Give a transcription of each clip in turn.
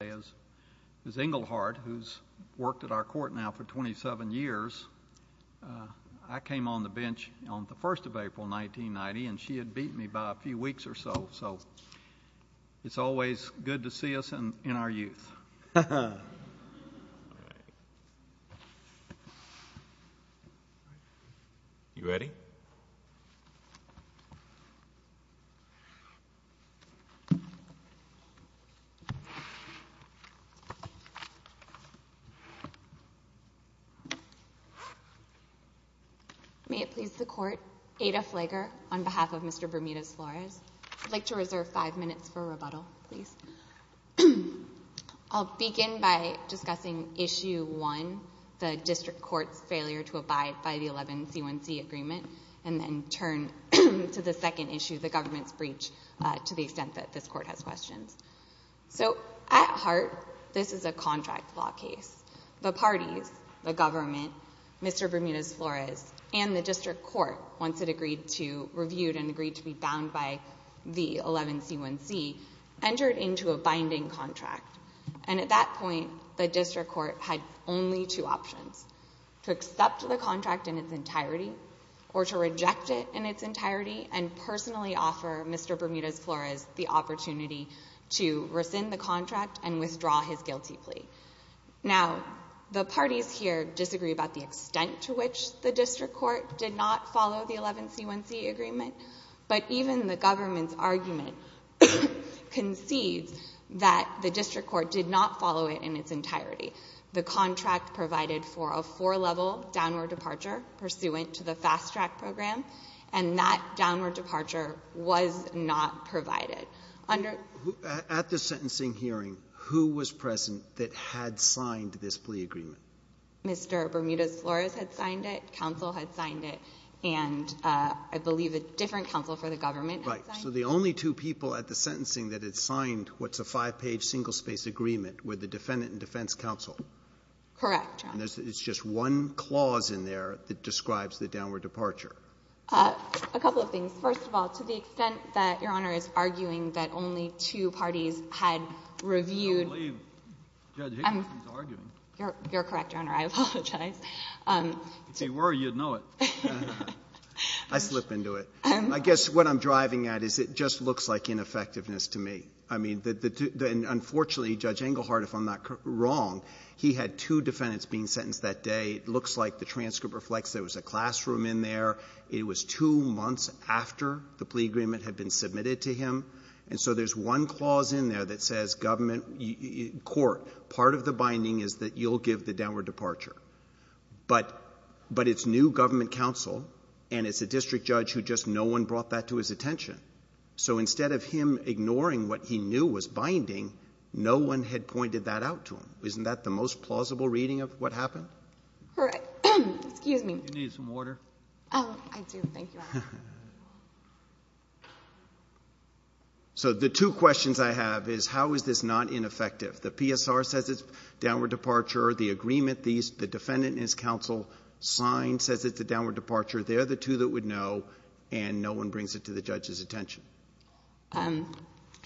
As Inglehart, who's worked at our court now for 27 years, I came on the bench on the 1st of April, 1990, and she had beaten me by a few weeks or so. It's always good to see us in our youth. You ready? May it please the Court, Ada Flager on behalf of Mr. Bermudez-Flores. I'd like to reserve five minutes for rebuttal, please. I'll begin by discussing Issue 1, the District Court's failure to abide by the 11-C1C agreement, and then turn to the second issue, the government's breach, to the extent that this Court has questions. So, at heart, this is a contract law case. The parties, the government, Mr. Bermudez-Flores, and the District Court, once it agreed to be reviewed and agreed to be bound by the 11-C1C, entered into a binding contract. And at that point, the District Court had only two options. To accept the contract in its entirety or to reject it in its entirety and personally offer Mr. Bermudez-Flores the opportunity to rescind the contract and withdraw his guilty plea. Now, the parties here disagree about the extent to which the District Court did not follow the 11-C1C agreement, but even the government's argument concedes that the District Court did not follow it in its entirety. The contract provided for a four-level downward departure pursuant to the fast-track program, and that downward departure was not provided. At the sentencing hearing, who was present that had signed this plea agreement? Mr. Bermudez-Flores had signed it. Counsel had signed it. And I believe a different counsel for the government had signed it. Right. So the only two people at the sentencing that had signed what's a five-page, single-space agreement were the Defendant and Defense Counsel. Correct, Your Honor. And it's just one clause in there that describes the downward departure. A couple of things. First of all, to the extent that Your Honor is arguing that only two parties had reviewed ---- I don't believe Judge Englehart is arguing. You're correct, Your Honor. I apologize. If you were, you'd know it. I slip into it. I guess what I'm driving at is it just looks like ineffectiveness to me. Unfortunately, Judge Englehart, if I'm not wrong, he had two defendants being sentenced that day. It looks like the transcript reflects there was a classroom in there. It was two months after the plea agreement had been submitted to him. And so there's one clause in there that says government court, part of the binding is that you'll give the downward departure. But it's new government counsel, and it's a district judge who just no one brought that to his attention. So instead of him ignoring what he knew was binding, no one had pointed that out to him. Isn't that the most plausible reading of what happened? All right. Excuse me. Do you need some water? Oh, I do. Thank you, Your Honor. So the two questions I have is how is this not ineffective? The PSR says it's downward departure. The agreement, the defendant and his counsel signed says it's a downward departure. They're the two that would know, and no one brings it to the judge's attention. I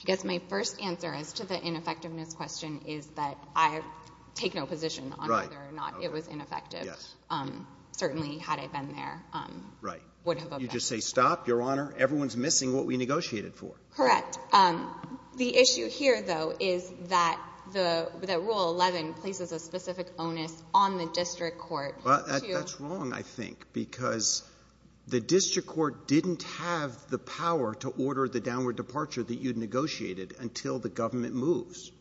guess my first answer as to the ineffectiveness question is that I take no position on whether or not it was ineffective. Yes. Certainly, had I been there, would have objected. You just say, stop, Your Honor. Everyone's missing what we negotiated for. Correct. The issue here, though, is that the Rule 11 places a specific onus on the district court. Well, that's wrong, I think, because the district court didn't have the power to order the downward departure that you'd negotiated until the government moves.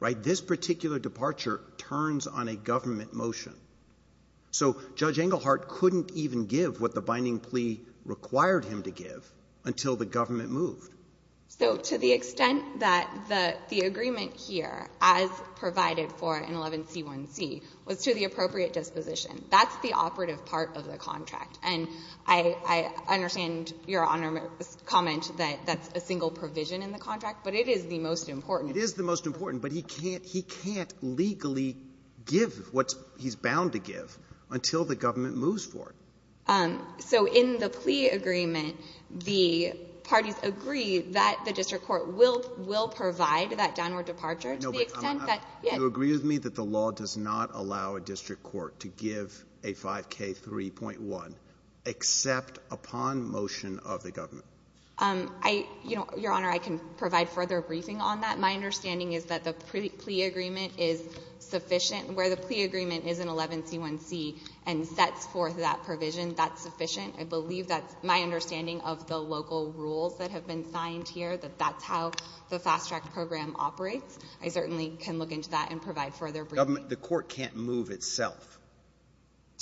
Right? This particular departure turns on a government motion. So Judge Englehart couldn't even give what the binding plea required him to give until the government moved. So to the extent that the agreement here, as provided for in 11c1c, was to the appropriate disposition, that's the operative part of the contract. And I understand Your Honor's comment that that's a single provision in the contract, but it is the most important. It is the most important, but he can't legally give what he's bound to give until the government moves forward. So in the plea agreement, the parties agree that the district court will provide that downward departure to the extent that — No, but do you agree with me that the law does not allow a district court to give a 5k3.1 except upon motion of the government? Your Honor, I can provide further briefing on that. My understanding is that the plea agreement is sufficient. Where the plea agreement is in 11c1c and sets forth that provision, that's sufficient. I believe that's my understanding of the local rules that have been signed here, that that's how the fast track program operates. I certainly can look into that and provide further briefing. The court can't move itself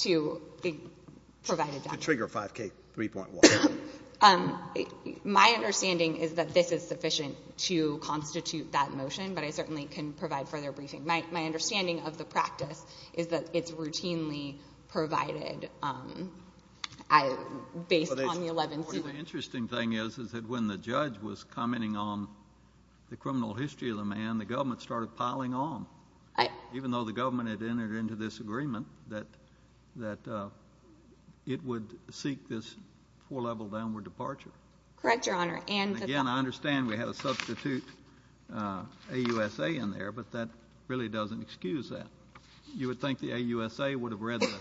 to provide a 5k3.1. My understanding is that this is sufficient to constitute that motion, but I certainly can provide further briefing. My understanding of the practice is that it's routinely provided based on the 11c. The interesting thing is that when the judge was commenting on the criminal history of the man, the government started piling on. Even though the government had entered into this agreement that it would seek this four-level downward departure. Correct, Your Honor. Again, I understand we have a substitute AUSA in there, but that really doesn't excuse that. You would think the AUSA would have read the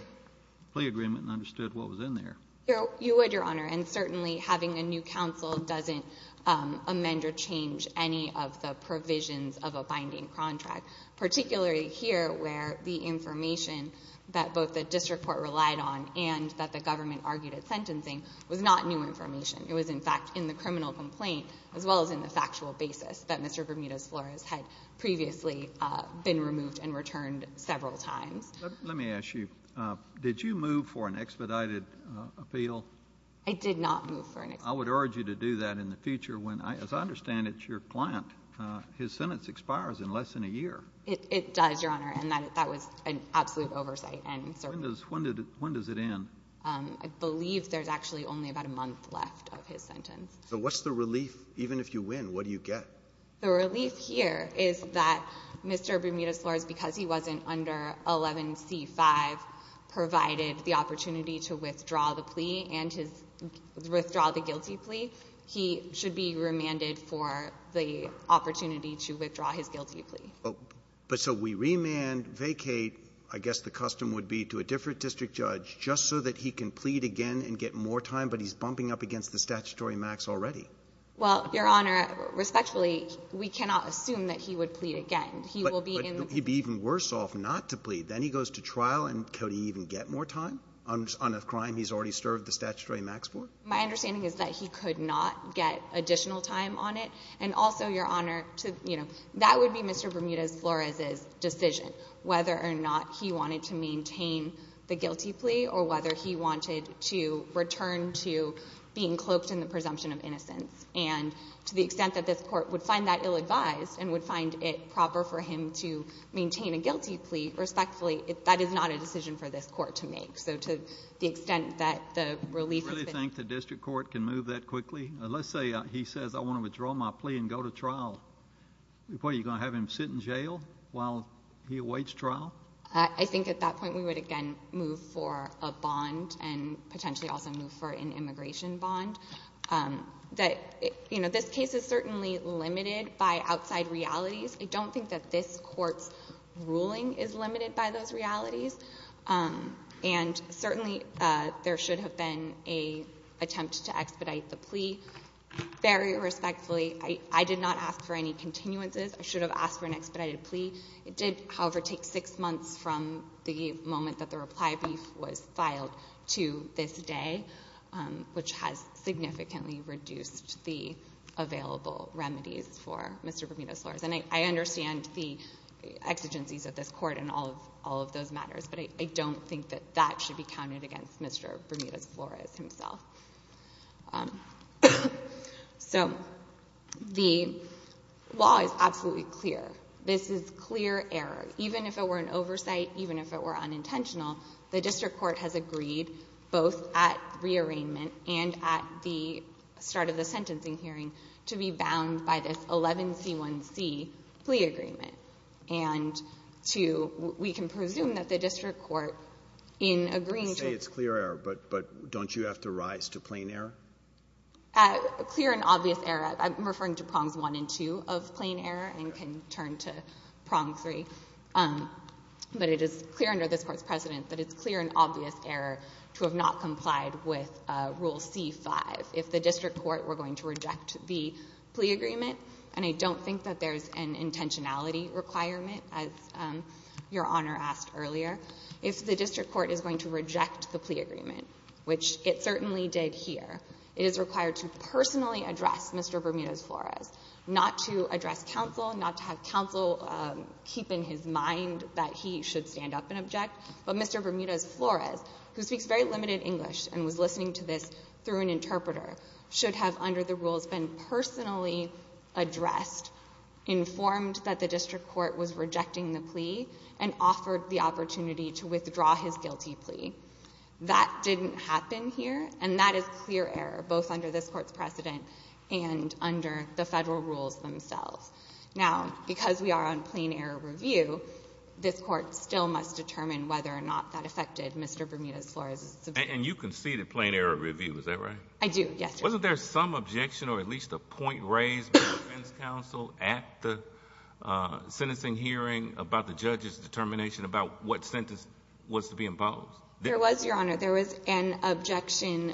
plea agreement and understood what was in there. You would, Your Honor, and certainly having a new counsel doesn't amend or change any of the provisions of a binding contract, particularly here where the information that both the district court relied on and that the government argued at sentencing was not new information. It was, in fact, in the criminal complaint as well as in the factual basis that Mr. Bermudez-Flores had previously been removed and returned several times. Let me ask you, did you move for an expedited appeal? I did not move for an expedited appeal. I would urge you to do that in the future when, as I understand it, your client, his sentence expires in less than a year. It does, Your Honor, and that was an absolute oversight. When does it end? I believe there's actually only about a month left of his sentence. So what's the relief? Even if you win, what do you get? The relief here is that Mr. Bermudez-Flores, because he wasn't under 11C-5, provided the opportunity to withdraw the plea and to withdraw the guilty plea. He should be remanded for the opportunity to withdraw his guilty plea. But so we remand, vacate, I guess the custom would be to a different district judge just so that he can plead again and get more time, but he's bumping up against the statutory max already. Well, Your Honor, respectfully, we cannot assume that he would plead again. But he'd be even worse off not to plead. Then he goes to trial, and could he even get more time on a crime he's already served the statutory max for? My understanding is that he could not get additional time on it. And also, Your Honor, that would be Mr. Bermudez-Flores's decision whether or not he wanted to maintain the guilty plea or whether he wanted to return to being cloaked in the presumption of innocence. And to the extent that this court would find that ill-advised and would find it proper for him to maintain a guilty plea, respectfully, that is not a decision for this court to make. So to the extent that the relief has been— Do you really think the district court can move that quickly? Let's say he says, I want to withdraw my plea and go to trial. What, are you going to have him sit in jail while he awaits trial? I think at that point we would, again, move for a bond and potentially also move for an immigration bond. This case is certainly limited by outside realities. I don't think that this court's ruling is limited by those realities. And certainly there should have been an attempt to expedite the plea. Very respectfully, I did not ask for any continuances. I should have asked for an expedited plea. It did, however, take six months from the moment that the reply brief was filed to this day, which has significantly reduced the available remedies for Mr. Bermudez-Flores. And I understand the exigencies of this court in all of those matters, but I don't think that that should be counted against Mr. Bermudez-Flores himself. So the law is absolutely clear. This is clear error. Even if it were an oversight, even if it were unintentional, the district court has agreed both at rearrangement and at the start of the sentencing hearing to be bound by this 11C1C plea agreement. And we can presume that the district court in agreeing to it. You say it's clear error, but don't you have to rise to plain error? Clear and obvious error. I'm referring to prongs one and two of plain error and can turn to prong three. But it is clear under this court's precedent that it's clear and obvious error to have not complied with Rule C-5. If the district court were going to reject the plea agreement, and I don't think that there's an intentionality requirement, as Your Honor asked earlier, if the district court is going to reject the plea agreement, which it certainly did here, it is required to personally address Mr. Bermudez-Flores, not to address counsel, not to have counsel keep in his mind that he should stand up and object, but Mr. Bermudez-Flores, who speaks very limited English and was listening to this through an interpreter, should have, under the rules, been personally addressed, informed that the district court was rejecting the plea, and offered the opportunity to withdraw his guilty plea. That didn't happen here, and that is clear error, both under this court's precedent and under the federal rules themselves. Now, because we are on plain error review, this court still must determine whether or not that affected Mr. Bermudez-Flores. And you conceded plain error review, is that right? I do, yes, Your Honor. Wasn't there some objection or at least a point raised by defense counsel at the sentencing hearing about the judge's determination about what sentence was to be imposed? There was, Your Honor. There was an objection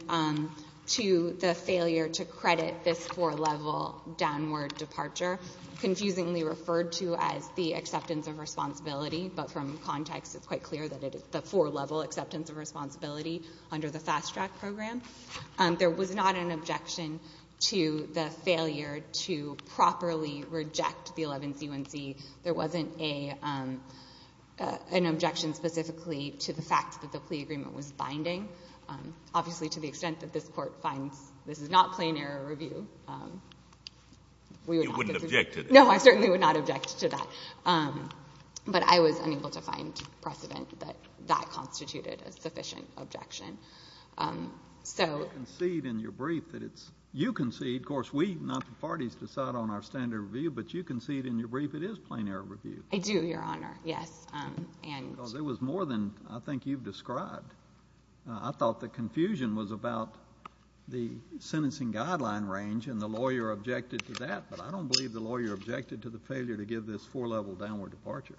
to the failure to credit this four-level downward departure, confusingly referred to as the acceptance of responsibility, but from context it's quite clear that it is the four-level acceptance of responsibility under the fast track program. There was not an objection to the failure to properly reject the 11th UNC. There wasn't an objection specifically to the fact that the plea agreement was binding, obviously to the extent that this court finds this is not plain error review. You wouldn't object to that? No, I certainly would not object to that. But I was unable to find precedent that that constituted a sufficient objection. You concede in your brief that it's – you concede, of course we, not the parties, decide on our standard review, but you concede in your brief it is plain error review. I do, Your Honor, yes. Because it was more than I think you've described. I thought the confusion was about the sentencing guideline range and the lawyer objected to that, but I don't believe the lawyer objected to the failure to give this four-level downward departure.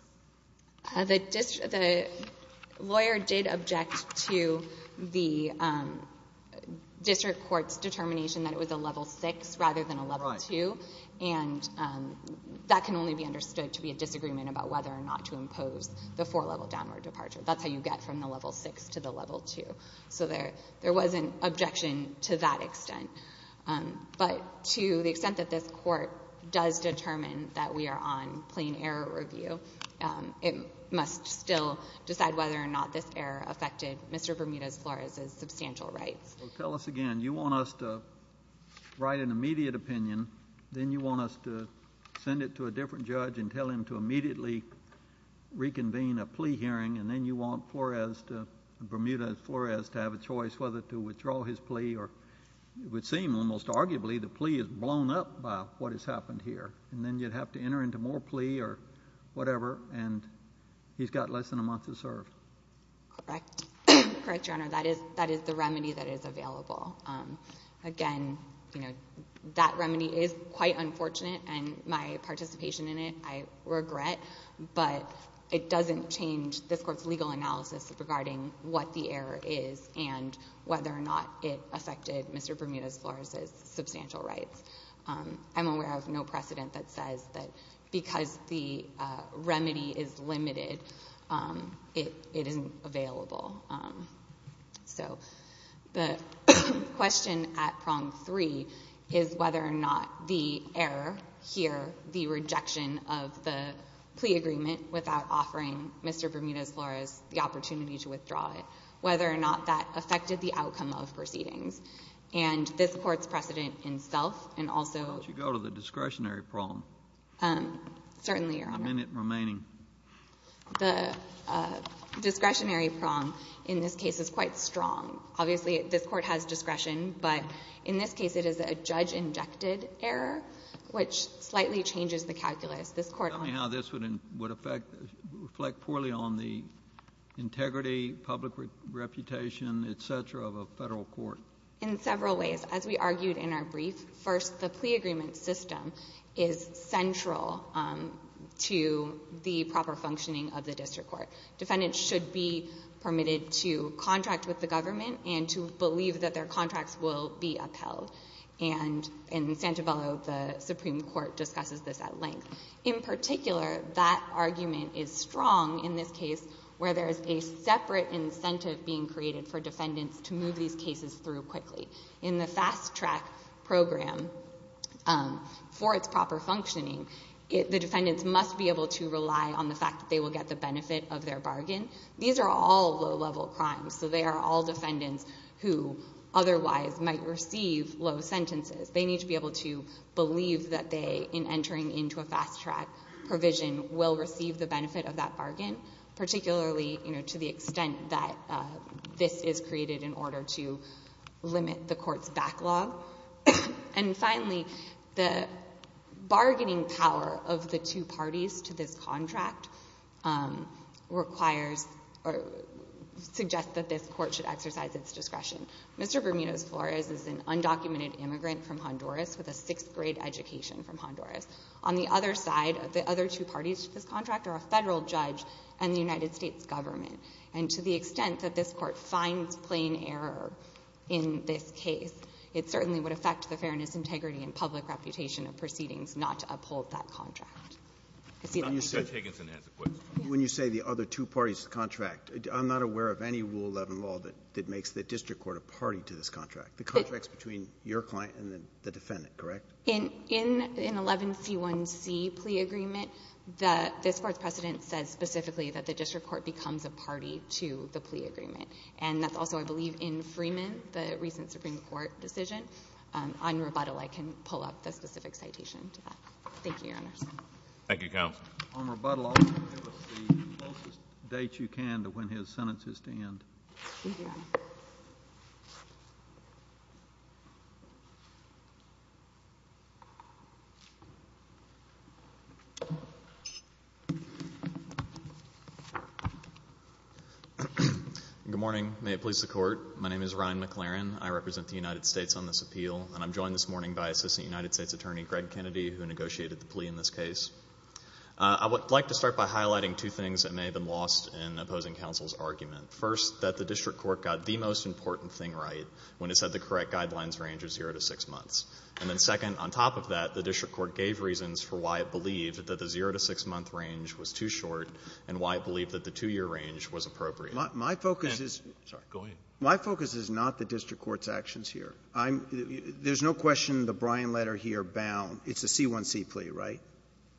The lawyer did object to the district court's determination that it was a level 6 rather than a level 2, and that can only be understood to be a disagreement about whether or not to impose the four-level downward departure. That's how you get from the level 6 to the level 2. So there wasn't objection to that extent. But to the extent that this court does determine that we are on plain error review, it must still decide whether or not this error affected Mr. Bermudez-Flores' substantial rights. Tell us again. You want us to write an immediate opinion, then you want us to send it to a different judge and tell him to immediately reconvene a plea hearing, and then you want Flores to – Bermudez-Flores to have a choice whether to withdraw his plea or it would seem almost arguably the plea is blown up by what has happened here, and then you'd have to enter into more plea or whatever, and he's got less than a month to serve. Correct. Correct, Your Honor. That is the remedy that is available. Again, that remedy is quite unfortunate, and my participation in it I regret, but it doesn't change this court's legal analysis regarding what the error is and whether or not it affected Mr. Bermudez-Flores' substantial rights. I'm aware of no precedent that says that because the remedy is limited, it isn't available. So the question at prong three is whether or not the error here, the rejection of the plea agreement without offering Mr. Bermudez-Flores the opportunity to withdraw it, whether or not that affected the outcome of proceedings. And this Court's precedent in self and also— Could you go to the discretionary prong? Certainly, Your Honor. The minute remaining. The discretionary prong in this case is quite strong. Obviously, this Court has discretion, but in this case it is a judge-injected error, which slightly changes the calculus. Tell me how this would reflect poorly on the integrity, public reputation, et cetera, of a federal court. In several ways. As we argued in our brief, first, the plea agreement system is central to the proper functioning of the district court. Defendants should be permitted to contract with the government In Santabello, the Supreme Court discusses this at length. In particular, that argument is strong in this case where there is a separate incentive being created for defendants to move these cases through quickly. In the fast-track program, for its proper functioning, the defendants must be able to rely on the fact that they will get the benefit of their bargain. These are all low-level crimes. They are all defendants who otherwise might receive low sentences. They need to be able to believe that they, in entering into a fast-track provision, will receive the benefit of that bargain, particularly to the extent that this is created in order to limit the court's backlog. Finally, the bargaining power of the two parties to this contract suggests that this court should exercise its discretion. Mr. Bermudez-Flores is an undocumented immigrant from Honduras with a sixth-grade education from Honduras. On the other side, the other two parties to this contract are a federal judge and the United States government. And to the extent that this Court finds plain error in this case, it certainly would affect the fairness, integrity, and public reputation of proceedings not to uphold that contract. I see that. Mr. Higginson has a question. When you say the other two parties to the contract, I'm not aware of any Rule 11 law that makes the district court a party to this contract. The contract is between your client and the defendant, correct? In an 11C1C plea agreement, this Court's precedent says specifically that the district court becomes a party to the plea agreement, and that's also, I believe, in Freeman, the recent Supreme Court decision. On rebuttal, I can pull up the specific citation to that. Thank you, Your Honors. Thank you, Counsel. On rebuttal, I'll give us the closest date you can to when his sentence is to end. Thank you, Your Honor. Good morning. May it please the Court. My name is Ryan McLaren. I represent the United States on this appeal, and I'm joined this morning by Assistant United States Attorney Greg Kennedy, who negotiated the plea in this case. I would like to start by highlighting two things that may have been lost in opposing counsel's argument. First, that the district court got the most important thing right when it said the correct guidelines range of zero to six months. And then second, on top of that, the district court gave reasons for why it believed that the zero to six month range was too short and why it believed that the two-year range was appropriate. My focus is not the district court's actions here. There's no question the Bryan letter here bound. It's a C1C plea, right?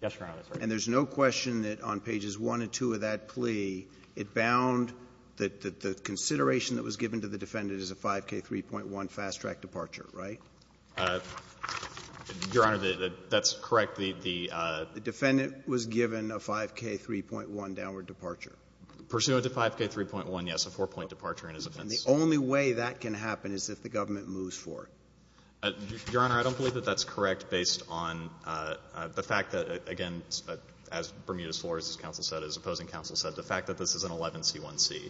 Yes, Your Honor. And there's no question that on pages one and two of that plea, it bound that the consideration that was given to the defendant is a 5K3.1 fast-track departure, right? Your Honor, that's correct. The defendant was given a 5K3.1 downward departure. Pursuant to 5K3.1, yes, a four-point departure in his offense. And the only way that can happen is if the government moves for it. Your Honor, I don't believe that that's correct based on the fact that, again, as Bermudez Flores, as counsel said, the fact that this is an 11C1C,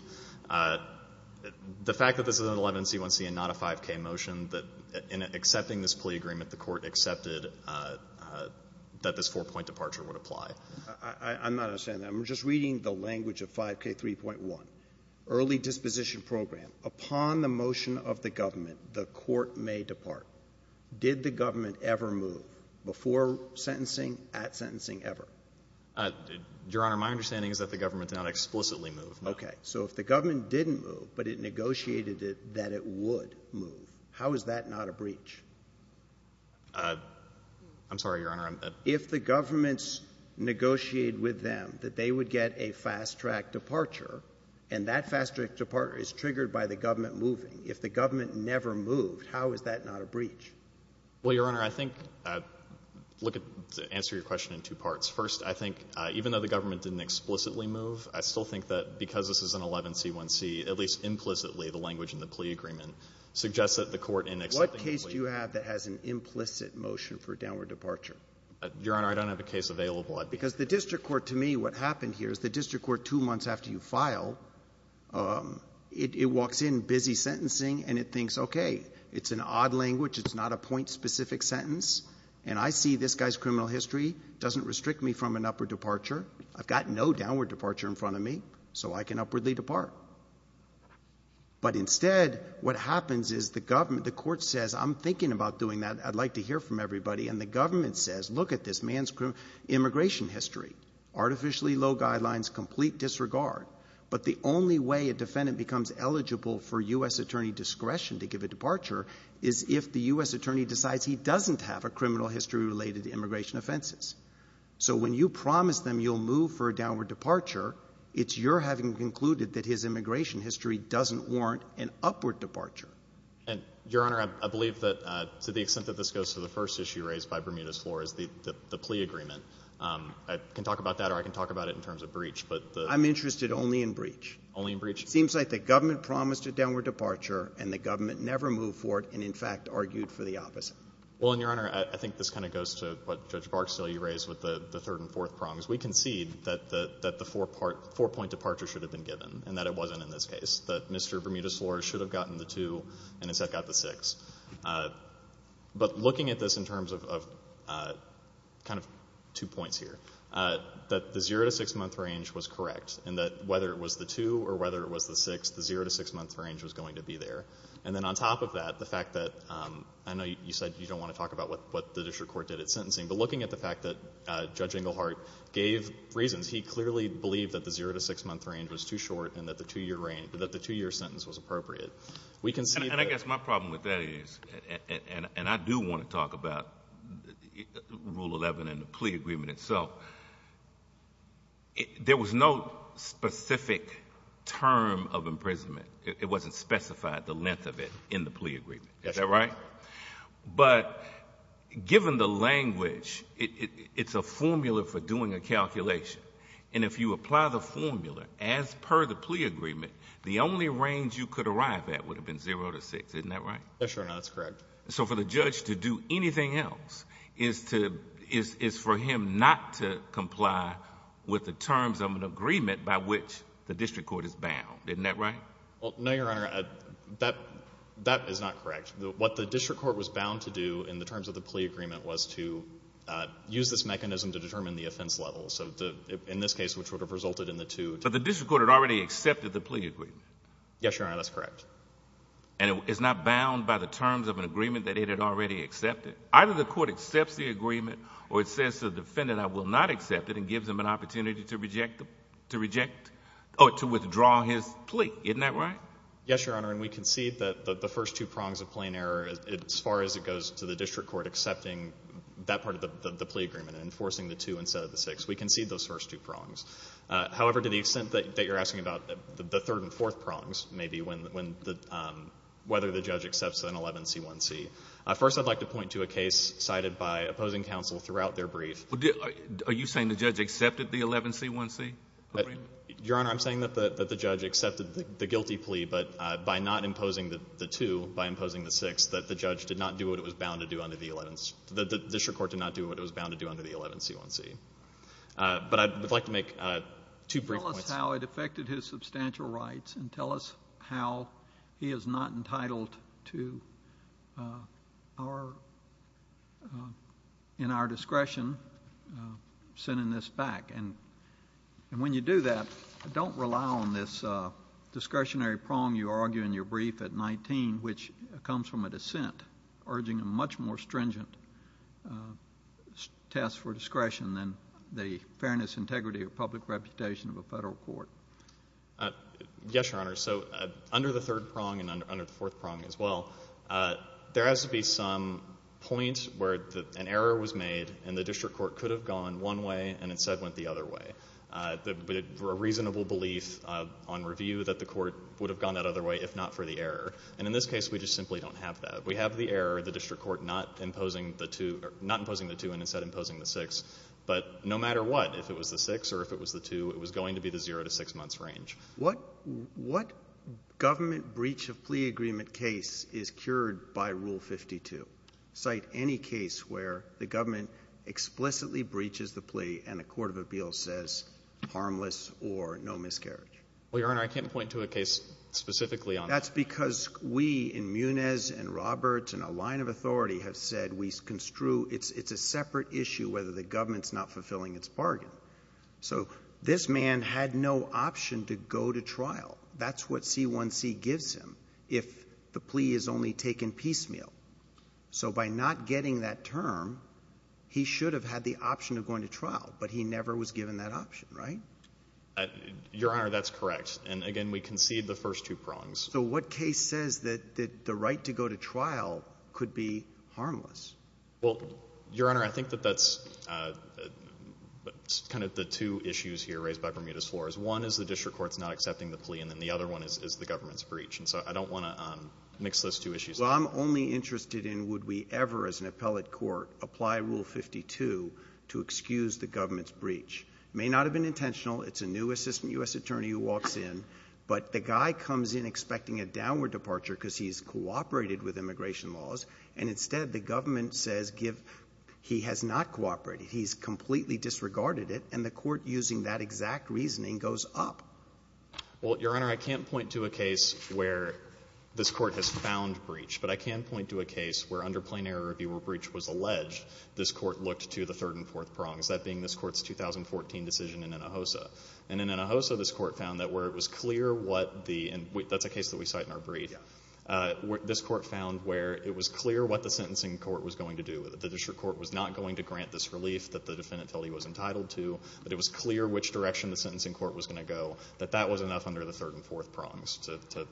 the fact that this is an 11C1C and not a 5K motion, that in accepting this plea agreement, the court accepted that this four-point departure would apply. I'm not understanding that. I'm just reading the language of 5K3.1, early disposition program. Upon the motion of the government, the court may depart. Did the government ever move before sentencing, at sentencing, ever? Your Honor, my understanding is that the government did not explicitly move. Okay. So if the government didn't move but it negotiated that it would move, how is that not a breach? I'm sorry, Your Honor. If the government's negotiated with them that they would get a fast-track departure and that fast-track departure is triggered by the government moving, if the government never moved, how is that not a breach? Well, Your Honor, I think to answer your question in two parts. First, I think even though the government didn't explicitly move, I still think that because this is an 11C1C, at least implicitly, the language in the plea agreement suggests that the court in accepting the plea agreement What case do you have that has an implicit motion for downward departure? Your Honor, I don't have a case available. Because the district court, to me, what happened here is the district court, two months after you file, it walks in busy sentencing and it thinks, okay, it's an odd language, it's not a point-specific sentence, and I see this guy's criminal history. It doesn't restrict me from an upward departure. I've got no downward departure in front of me, so I can upwardly depart. But instead, what happens is the court says, I'm thinking about doing that. I'd like to hear from everybody. And the government says, look at this man's immigration history. Artificially low guidelines, complete disregard. But the only way a defendant becomes eligible for U.S. attorney discretion to give a departure is if the U.S. attorney decides he doesn't have a criminal history related to immigration offenses. So when you promise them you'll move for a downward departure, it's your having concluded that his immigration history doesn't warrant an upward departure. Your Honor, I believe that to the extent that this goes to the first issue raised by Bermudez-Flor is the plea agreement. I can talk about that or I can talk about it in terms of breach. I'm interested only in breach. Only in breach? It seems like the government promised a downward departure and the government never moved for it and, in fact, argued for the opposite. Well, Your Honor, I think this kind of goes to what Judge Barksdale raised with the third and fourth prongs. We concede that the four-point departure should have been given and that it wasn't in this case, that Mr. Bermudez-Flor should have gotten the two and instead got the six. But looking at this in terms of kind of two points here, that the zero to six-month range was correct and that whether it was the two or whether it was the six, the zero to six-month range was going to be there. And then on top of that, the fact that I know you said you don't want to talk about what the district court did at sentencing, but looking at the fact that Judge Englehart gave reasons, he clearly believed that the zero to six-month range was too short and that the two-year sentence was appropriate. And I guess my problem with that is, and I do want to talk about Rule 11 and the plea agreement itself, there was no specific term of imprisonment. It wasn't specified, the length of it, in the plea agreement. Is that right? But given the language, it's a formula for doing a calculation. And if you apply the formula as per the plea agreement, the only range you could arrive at would have been zero to six. Isn't that right? Yes, Your Honor, that's correct. So for the judge to do anything else is for him not to comply with the terms of an agreement by which the district court is bound. Isn't that right? No, Your Honor, that is not correct. What the district court was bound to do in the terms of the plea agreement was to use this mechanism to determine the offense level, in this case, which would have resulted in the two. But the district court had already accepted the plea agreement. Yes, Your Honor, that's correct. And it's not bound by the terms of an agreement that it had already accepted. Either the court accepts the agreement or it says to the defendant, I will not accept it, and gives him an opportunity to reject or to withdraw his plea. Isn't that right? Yes, Your Honor, and we concede that the first two prongs of plain error, as far as it goes to the district court accepting that part of the plea agreement and enforcing the two instead of the six, we concede those first two prongs. However, to the extent that you're asking about the third and fourth prongs, maybe, whether the judge accepts an 11C1C. First, I'd like to point to a case cited by opposing counsel throughout their brief. Are you saying the judge accepted the 11C1C? Your Honor, I'm saying that the judge accepted the guilty plea, but by not imposing the two, by imposing the six, that the judge did not do what it was bound to do under the 11C1C. But I would like to make two brief points. Tell us how it affected his substantial rights and tell us how he is not entitled to, in our discretion, sending this back. And when you do that, don't rely on this discretionary prong you argue in your brief at 19, which comes from a dissent urging a much more stringent test for discretion than the fairness, integrity, or public reputation of a federal court. Yes, Your Honor. So under the third prong and under the fourth prong as well, there has to be some point where an error was made and the district court could have gone one way and instead went the other way. A reasonable belief on review that the court would have gone that other way if not for the error. And in this case, we just simply don't have that. We have the error of the district court not imposing the two and instead imposing the six. But no matter what, if it was the six or if it was the two, it was going to be the zero to six months range. What government breach of plea agreement case is cured by Rule 52? Cite any case where the government explicitly breaches the plea and a court of appeals says harmless or no miscarriage. Well, Your Honor, I can't point to a case specifically on that. That's because we in Muniz and Roberts and a line of authority have said we construe it's a separate issue whether the government is not fulfilling its bargain. So this man had no option to go to trial. That's what C1C gives him if the plea is only taken piecemeal. So by not getting that term, he should have had the option of going to trial, but he never was given that option, right? Your Honor, that's correct. And again, we concede the first two prongs. So what case says that the right to go to trial could be harmless? Well, Your Honor, I think that that's kind of the two issues here raised by Bermudez-Flores. One is the district court's not accepting the plea, and then the other one is the government's breach. And so I don't want to mix those two issues up. Well, I'm only interested in would we ever, as an appellate court, apply Rule 52 to excuse the government's breach. It may not have been intentional. It's a new assistant U.S. attorney who walks in. But the guy comes in expecting a downward departure because he's cooperated with immigration laws. And instead, the government says he has not cooperated. He's completely disregarded it. And the court, using that exact reasoning, goes up. Well, Your Honor, I can't point to a case where this court has found breach. But I can point to a case where, under plain error, if your breach was alleged, this court looked to the third and fourth prongs, that being this court's 2014 decision in Hinojosa. And in Hinojosa, this court found that where it was clear what the, and that's a case that we cite in our brief, this court found where it was clear what the sentencing court was going to do. The district court was not going to grant this relief that the defendant felt he was entitled to. But it was clear which direction the sentencing court was going to go. That that was enough under the third and fourth prongs to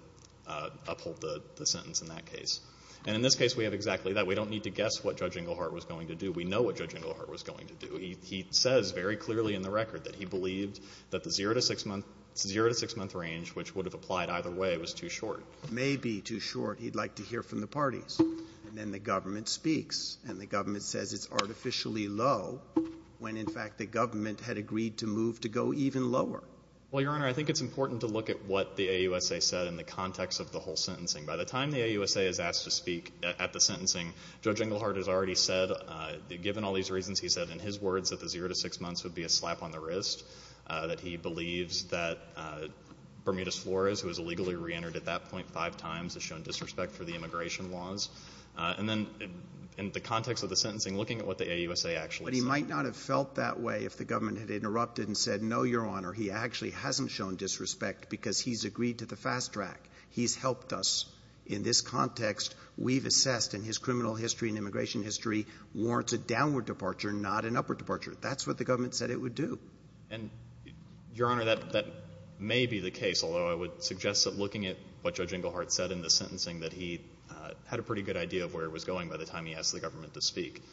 uphold the sentence in that case. And in this case, we have exactly that. We don't need to guess what Judge Englehart was going to do. We know what Judge Englehart was going to do. He says very clearly in the record that he believed that the zero to six-month range, which would have applied either way, was too short. Maybe too short. He'd like to hear from the parties. And then the government speaks. And the government says it's artificially low when, in fact, the government had agreed to move to go even lower. Well, Your Honor, I think it's important to look at what the AUSA said in the context of the whole sentencing. By the time the AUSA is asked to speak at the sentencing, Judge Englehart has already said, given all these reasons, he said in his words that the zero to six months would be a slap on the wrist. That he believes that Bermudez Flores, who was illegally reentered at that point five times, has shown disrespect for the immigration laws. And then in the context of the sentencing, looking at what the AUSA actually said. But he might not have felt that way if the government had interrupted and said, no, Your Honor, he actually hasn't shown disrespect because he's agreed to the fast track. He's helped us in this context. We've assessed in his criminal history and immigration history warrants a downward departure, not an upward departure. That's what the government said it would do. And, Your Honor, that may be the case, although I would suggest that looking at what Judge Englehart said in the sentencing, that he had a pretty good idea of where it was going by the time he asked the government to speak.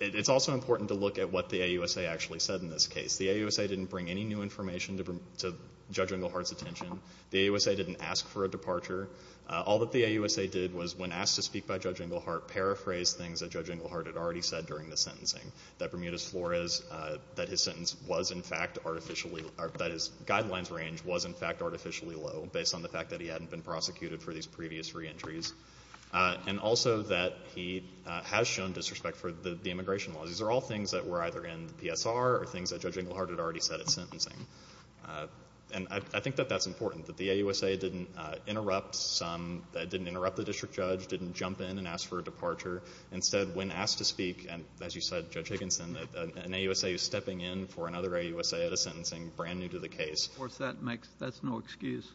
It's also important to look at what the AUSA actually said in this case. The AUSA didn't bring any new information to Judge Englehart's attention. The AUSA didn't ask for a departure. All that the AUSA did was, when asked to speak by Judge Englehart, paraphrase things that Judge Englehart had already said during the sentencing. That Bermudez Flores, that his sentence was, in fact, artificially, that his identity hadn't been prosecuted for these previous re-entries. And also that he has shown disrespect for the immigration laws. These are all things that were either in the PSR or things that Judge Englehart had already said at sentencing. And I think that that's important, that the AUSA didn't interrupt the district judge, didn't jump in and ask for a departure. Instead, when asked to speak, and as you said, Judge Higginson, an AUSA is stepping in for another AUSA at a sentencing brand new to the case. Of course, that's no excuse.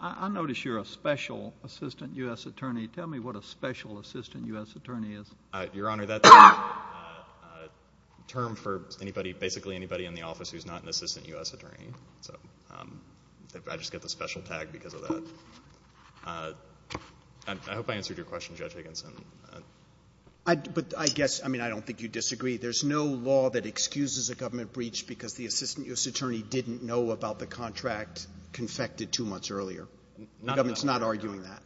I notice you're a special assistant U.S. attorney. Tell me what a special assistant U.S. attorney is. Your Honor, that's a term for anybody, basically anybody in the office, who's not an assistant U.S. attorney. So I just get the special tag because of that. I hope I answered your question, Judge Higginson. But I guess, I mean, I don't think you disagree. There's no law that excuses a government breach because the assistant U.S. The government's not arguing that.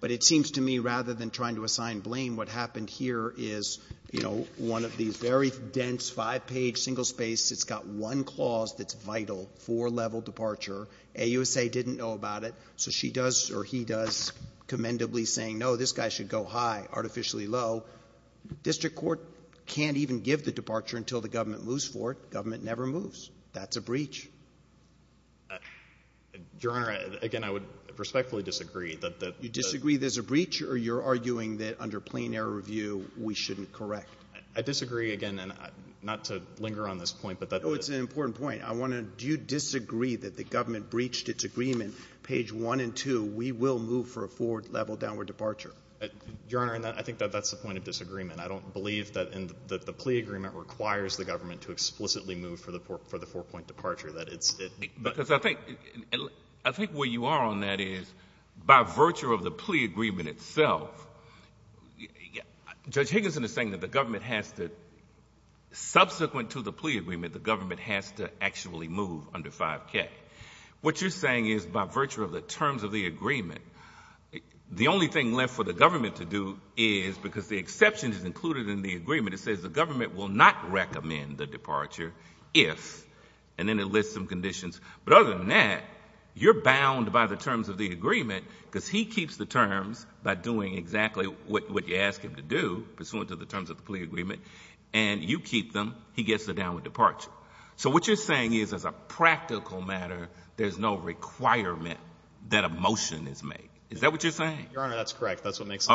But it seems to me, rather than trying to assign blame, what happened here is, you know, one of these very dense, five-page, single-space, it's got one clause that's vital for level departure. AUSA didn't know about it, so she does or he does commendably saying, no, this guy should go high, artificially low. District court can't even give the departure until the government moves for it. Government never moves. That's a breach. Your Honor, again, I would respectfully disagree. You disagree there's a breach, or you're arguing that under plain error review, we shouldn't correct? I disagree, again, and not to linger on this point. Oh, it's an important point. I want to know, do you disagree that the government breached its agreement, page 1 and 2, we will move for a forward-level downward departure? Your Honor, I think that that's the point of disagreement. I don't believe that the plea agreement requires the government to explicitly move for the four-point departure. I think where you are on that is by virtue of the plea agreement itself, Judge Higginson is saying that the government has to, subsequent to the plea agreement, the government has to actually move under 5K. What you're saying is by virtue of the terms of the agreement, the only thing left for the government to do is, because the exception is included in the agreement, it says the government will not recommend the departure if, and then it lists some conditions. But other than that, you're bound by the terms of the agreement, because he keeps the terms by doing exactly what you ask him to do, pursuant to the terms of the plea agreement, and you keep them. He gets a downward departure. So what you're saying is as a practical matter, there's no requirement that a motion is made. Is that what you're saying? Your Honor, that's correct. That's what makes it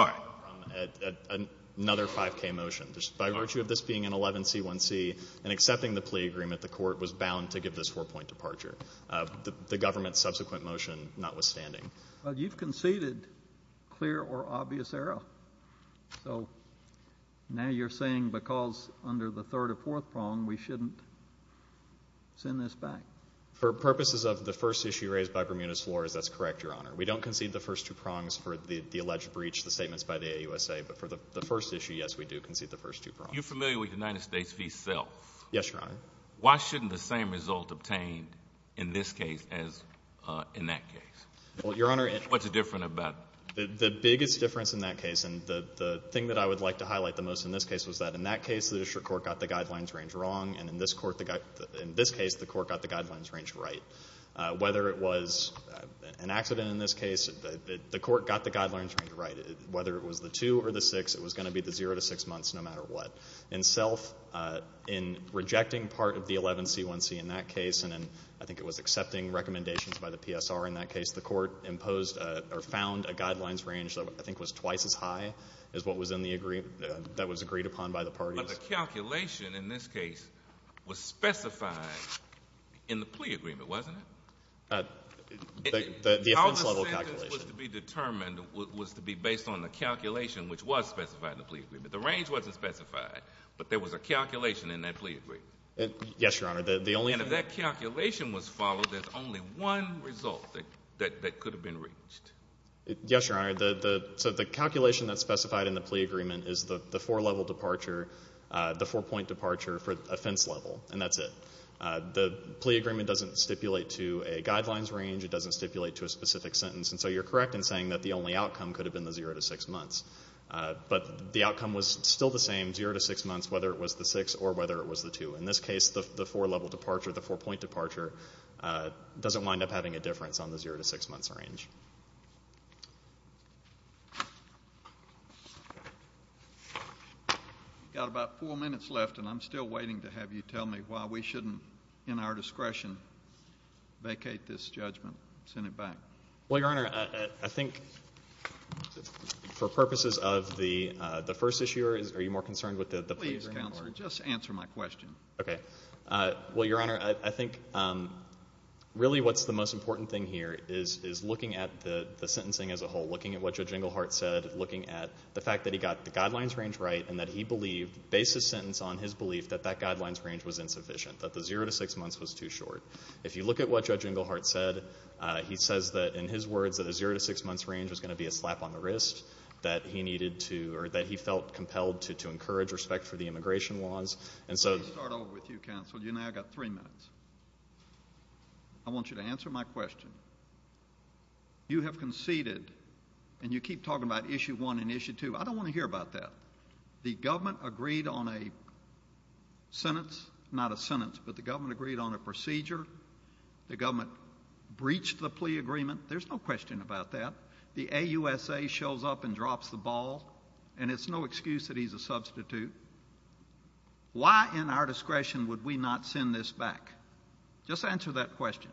a 5K motion. By virtue of this being an 11C1C and accepting the plea agreement, the court was bound to give this four-point departure, the government's subsequent motion notwithstanding. But you've conceded clear or obvious error. So now you're saying because under the third or fourth prong, we shouldn't send this back. For purposes of the first issue raised by Bermudez-Flores, that's correct, Your Honor. We don't concede the first two prongs for the alleged breach, the statements by the AUSA. But for the first issue, yes, we do concede the first two prongs. You're familiar with the United States v. Self. Yes, Your Honor. Why shouldn't the same result obtained in this case as in that case? Well, Your Honor. What's different about it? The biggest difference in that case, and the thing that I would like to highlight the most in this case, was that in that case the district court got the guidelines range wrong, and in this case the court got the guidelines range right. Whether it was an accident in this case, the court got the guidelines range right. Whether it was the two or the six, it was going to be the zero to six months no matter what. In Self, in rejecting part of the 11C1C in that case, and I think it was accepting recommendations by the PSR in that case, the court imposed or found a guidelines range that I think was twice as high as what was in the agreement that was agreed upon by the parties. But the calculation in this case was specified in the plea agreement, wasn't it? The offense level calculation. What was to be determined was to be based on the calculation which was specified in the plea agreement. The range wasn't specified, but there was a calculation in that plea agreement. Yes, Your Honor. And if that calculation was followed, there's only one result that could have been reached. Yes, Your Honor. So the calculation that's specified in the plea agreement is the four-level departure, the four-point departure for offense level, and that's it. The plea agreement doesn't stipulate to a guidelines range. It doesn't stipulate to a specific sentence. And so you're correct in saying that the only outcome could have been the zero to six months. But the outcome was still the same, zero to six months, whether it was the six or whether it was the two. In this case, the four-level departure, the four-point departure, doesn't wind up having a difference on the zero to six months range. We've got about four minutes left, and I'm still waiting to have you tell me why we shouldn't, in our discretion, vacate this judgment and send it back. Well, Your Honor, I think for purposes of the first issue, are you more concerned with the plea agreement? Please, Counselor, just answer my question. Okay. Well, Your Honor, I think really what's the most important thing here is looking at the sentencing as a whole, looking at what Judge Inglehart said, looking at the fact that he got the guidelines range right and that he believed, based his sentence on his belief, that that guidelines range was insufficient, that the zero to six months was too short. If you look at what Judge Inglehart said, he says that, in his words, that a zero to six months range was going to be a slap on the wrist, that he felt compelled to encourage respect for the immigration laws. Let me start over with you, Counselor. You and I have got three minutes. I want you to answer my question. You have conceded, and you keep talking about issue one and issue two. I don't want to hear about that. The government agreed on a sentence, not a sentence, but the government agreed on a procedure. The government breached the plea agreement. There's no question about that. The AUSA shows up and drops the ball, and it's no excuse that he's a substitute. Why, in our discretion, would we not send this back? Just answer that question.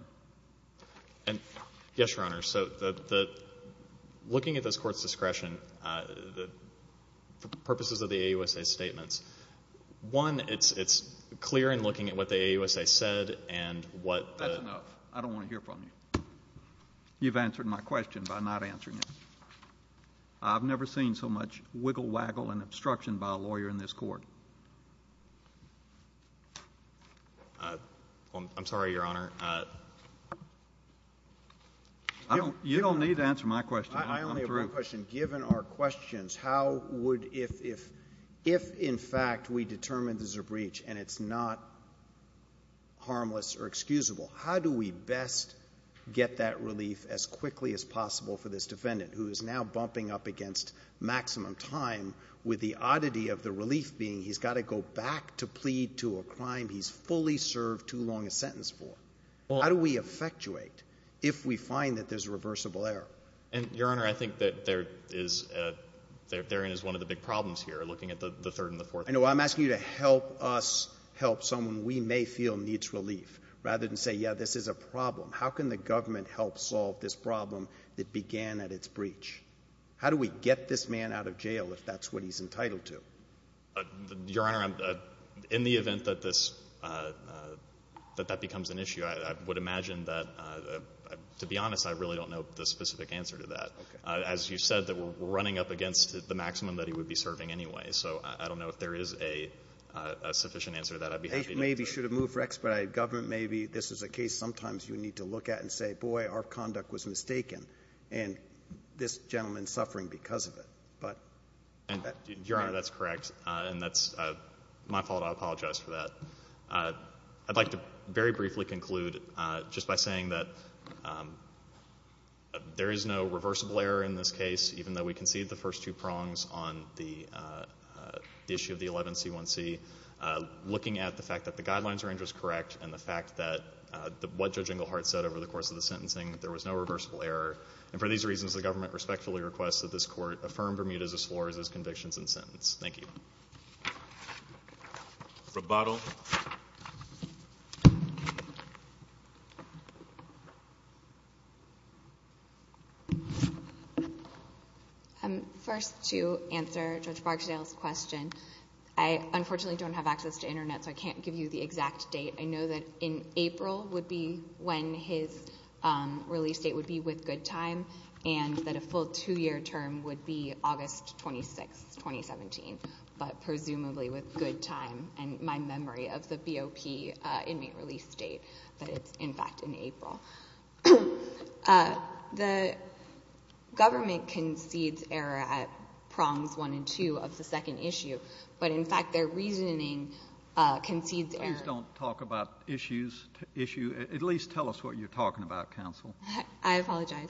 Yes, Your Honor. Looking at this court's discretion, for purposes of the AUSA's statements, one, it's clear in looking at what the AUSA said. That's enough. I don't want to hear from you. You've answered my question by not answering it. I've never seen so much wiggle waggle and obstruction by a lawyer in this court. I'm sorry, Your Honor. You don't need to answer my question. I only have one question. Given our questions, if, in fact, we determine there's a breach and it's not harmless or excusable, how do we best get that relief as quickly as possible for this defendant, who is now bumping up against maximum time, with the oddity of the relief being he's got to go back to plead to a crime he's fully served too long a sentence for? How do we effectuate if we find that there's a reversible error? Your Honor, I think that there is one of the big problems here, looking at the third and the fourth. I know. I'm asking you to help us help someone we may feel needs relief, rather than say, yeah, this is a problem. How can the government help solve this problem that began at its breach? How do we get this man out of jail if that's what he's entitled to? Your Honor, in the event that that becomes an issue, I would imagine that, to be honest, I really don't know the specific answer to that. As you said, we're running up against the maximum that he would be serving anyway, so I don't know if there is a sufficient answer to that. Maybe he should have moved for expedited government. Maybe this is a case sometimes you need to look at and say, boy, our conduct was mistaken, and this gentleman is suffering because of it. Your Honor, that's correct, and that's my fault. I apologize for that. I'd like to very briefly conclude just by saying that there is no reversible error in this case, even though we conceded the first two prongs on the issue of the 11C1C, looking at the fact that the guidelines range was correct and the fact that what Judge Englehart said over the course of the sentencing, there was no reversible error, and for these reasons the government respectfully requests that this court affirm Bermuda's as far as its convictions and sentence. Thank you. Roboto. First, to answer Judge Barksdale's question, I unfortunately don't have access to Internet, so I can't give you the exact date. I know that in April would be when his release date would be with good time and that a full two-year term would be August 26, 2017, but presumably with good time, and my memory of the BOP inmate release date that it's, in fact, in April. The government concedes error at prongs one and two of the second issue, but, in fact, their reasoning concedes error. Please don't talk about issue. At least tell us what you're talking about, counsel. I apologize.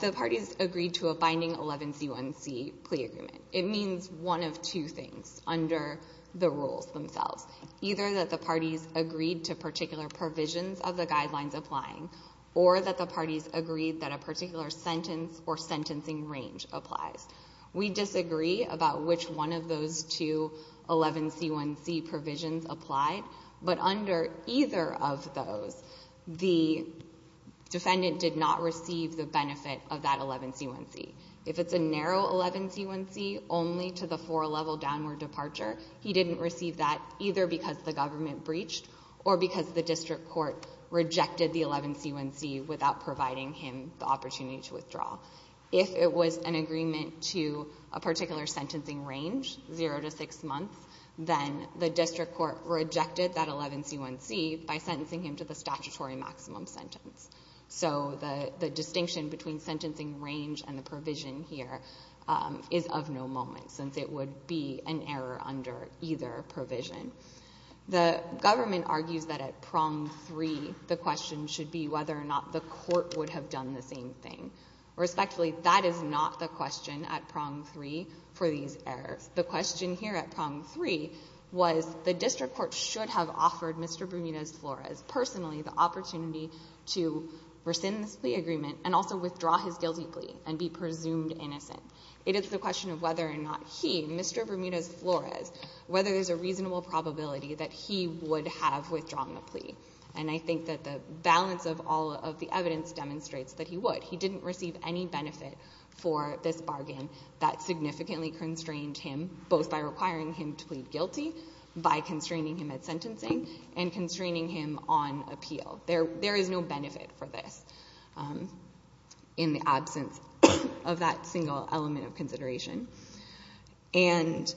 The parties agreed to a binding 11C1C plea agreement. It means one of two things under the rules themselves, either that the parties agreed to particular provisions of the guidelines applying or that the parties agreed that a particular sentence or sentencing range applies. We disagree about which one of those two 11C1C provisions applied, but under either of those, the defendant did not receive the benefit of that 11C1C. If it's a narrow 11C1C only to the four-level downward departure, he didn't receive that either because the government breached or because the district court rejected the 11C1C without providing him the opportunity to withdraw. If it was an agreement to a particular sentencing range, zero to six months, then the district court rejected that 11C1C by sentencing him to the statutory maximum sentence. So the distinction between sentencing range and the provision here is of no moment since it would be an error under either provision. The government argues that at prong three, the question should be whether or not the court would have done the same thing. Respectfully, that is not the question at prong three for these errors. The question here at prong three was the district court should have offered Mr. Bermudez-Flores personally the opportunity to rescind this plea agreement and also withdraw his guilty plea and be presumed innocent. It is the question of whether or not he, Mr. Bermudez-Flores, whether there's a reasonable probability that he would have withdrawn the plea. And I think that the balance of all of the evidence demonstrates that he would. He didn't receive any benefit for this bargain that significantly constrained him, both by requiring him to plead guilty by constraining him at sentencing and constraining him on appeal. There is no benefit for this in the absence of that single element of consideration. And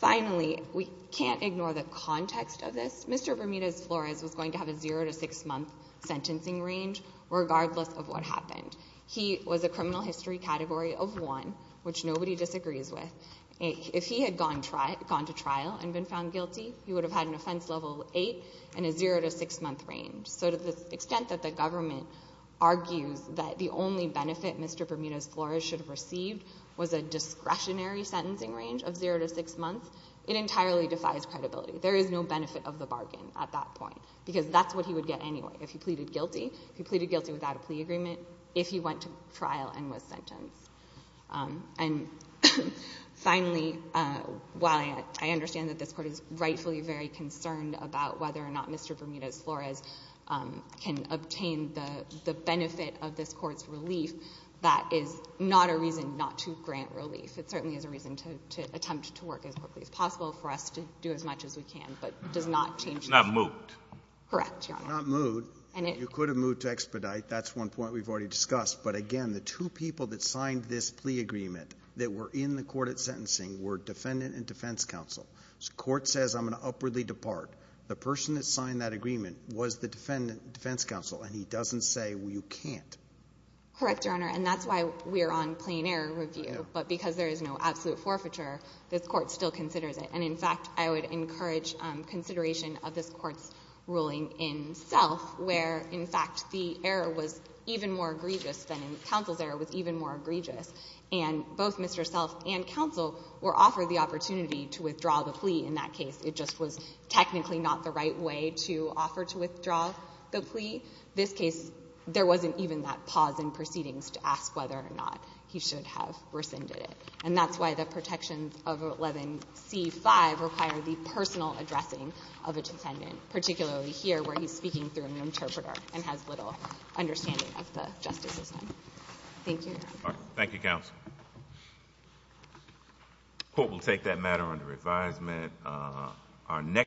finally, we can't ignore the context of this. Mr. Bermudez-Flores was going to have a zero to six-month sentencing range regardless of what happened. He was a criminal history category of one, which nobody disagrees with. If he had gone to trial and been found guilty, he would have had an offense level eight and a zero to six-month range. So to the extent that the government argues that the only benefit Mr. Bermudez-Flores should have received was a discretionary sentencing range of zero to six months, it entirely defies credibility. There is no benefit of the bargain at that point because that's what he would get anyway. If he pleaded guilty, he pleaded guilty without a plea agreement if he went to trial and was sentenced. And finally, while I understand that this Court is rightfully very concerned about whether or not Mr. Bermudez-Flores can obtain the benefit of this Court's relief, that is not a reason not to grant relief. It certainly is a reason to attempt to work as quickly as possible for us to do as much as we can. But it does not change that. Not moot. Correct, Your Honor. Not moot. You could have moot to expedite. That's one point we've already discussed. But again, the two people that signed this plea agreement that were in the court at sentencing were defendant and defense counsel. The court says I'm going to upwardly depart. The person that signed that agreement was the defendant and defense counsel, and he doesn't say you can't. Correct, Your Honor. And that's why we're on plain error review. But because there is no absolute forfeiture, this Court still considers it. And, in fact, I would encourage consideration of this Court's ruling in Self where, in fact, the error was even more egregious than in counsel's error, was even more egregious. And both Mr. Self and counsel were offered the opportunity to withdraw the plea in that case. It just was technically not the right way to offer to withdraw the plea. This case, there wasn't even that pause in proceedings to ask whether or not he should have rescinded it. And that's why the protections of 11C5 require the personal addressing of a defendant, particularly here where he's speaking through an interpreter and has little understanding of the justice system. Thank you, Your Honor. Thank you, counsel. The Court will take that matter under advisement.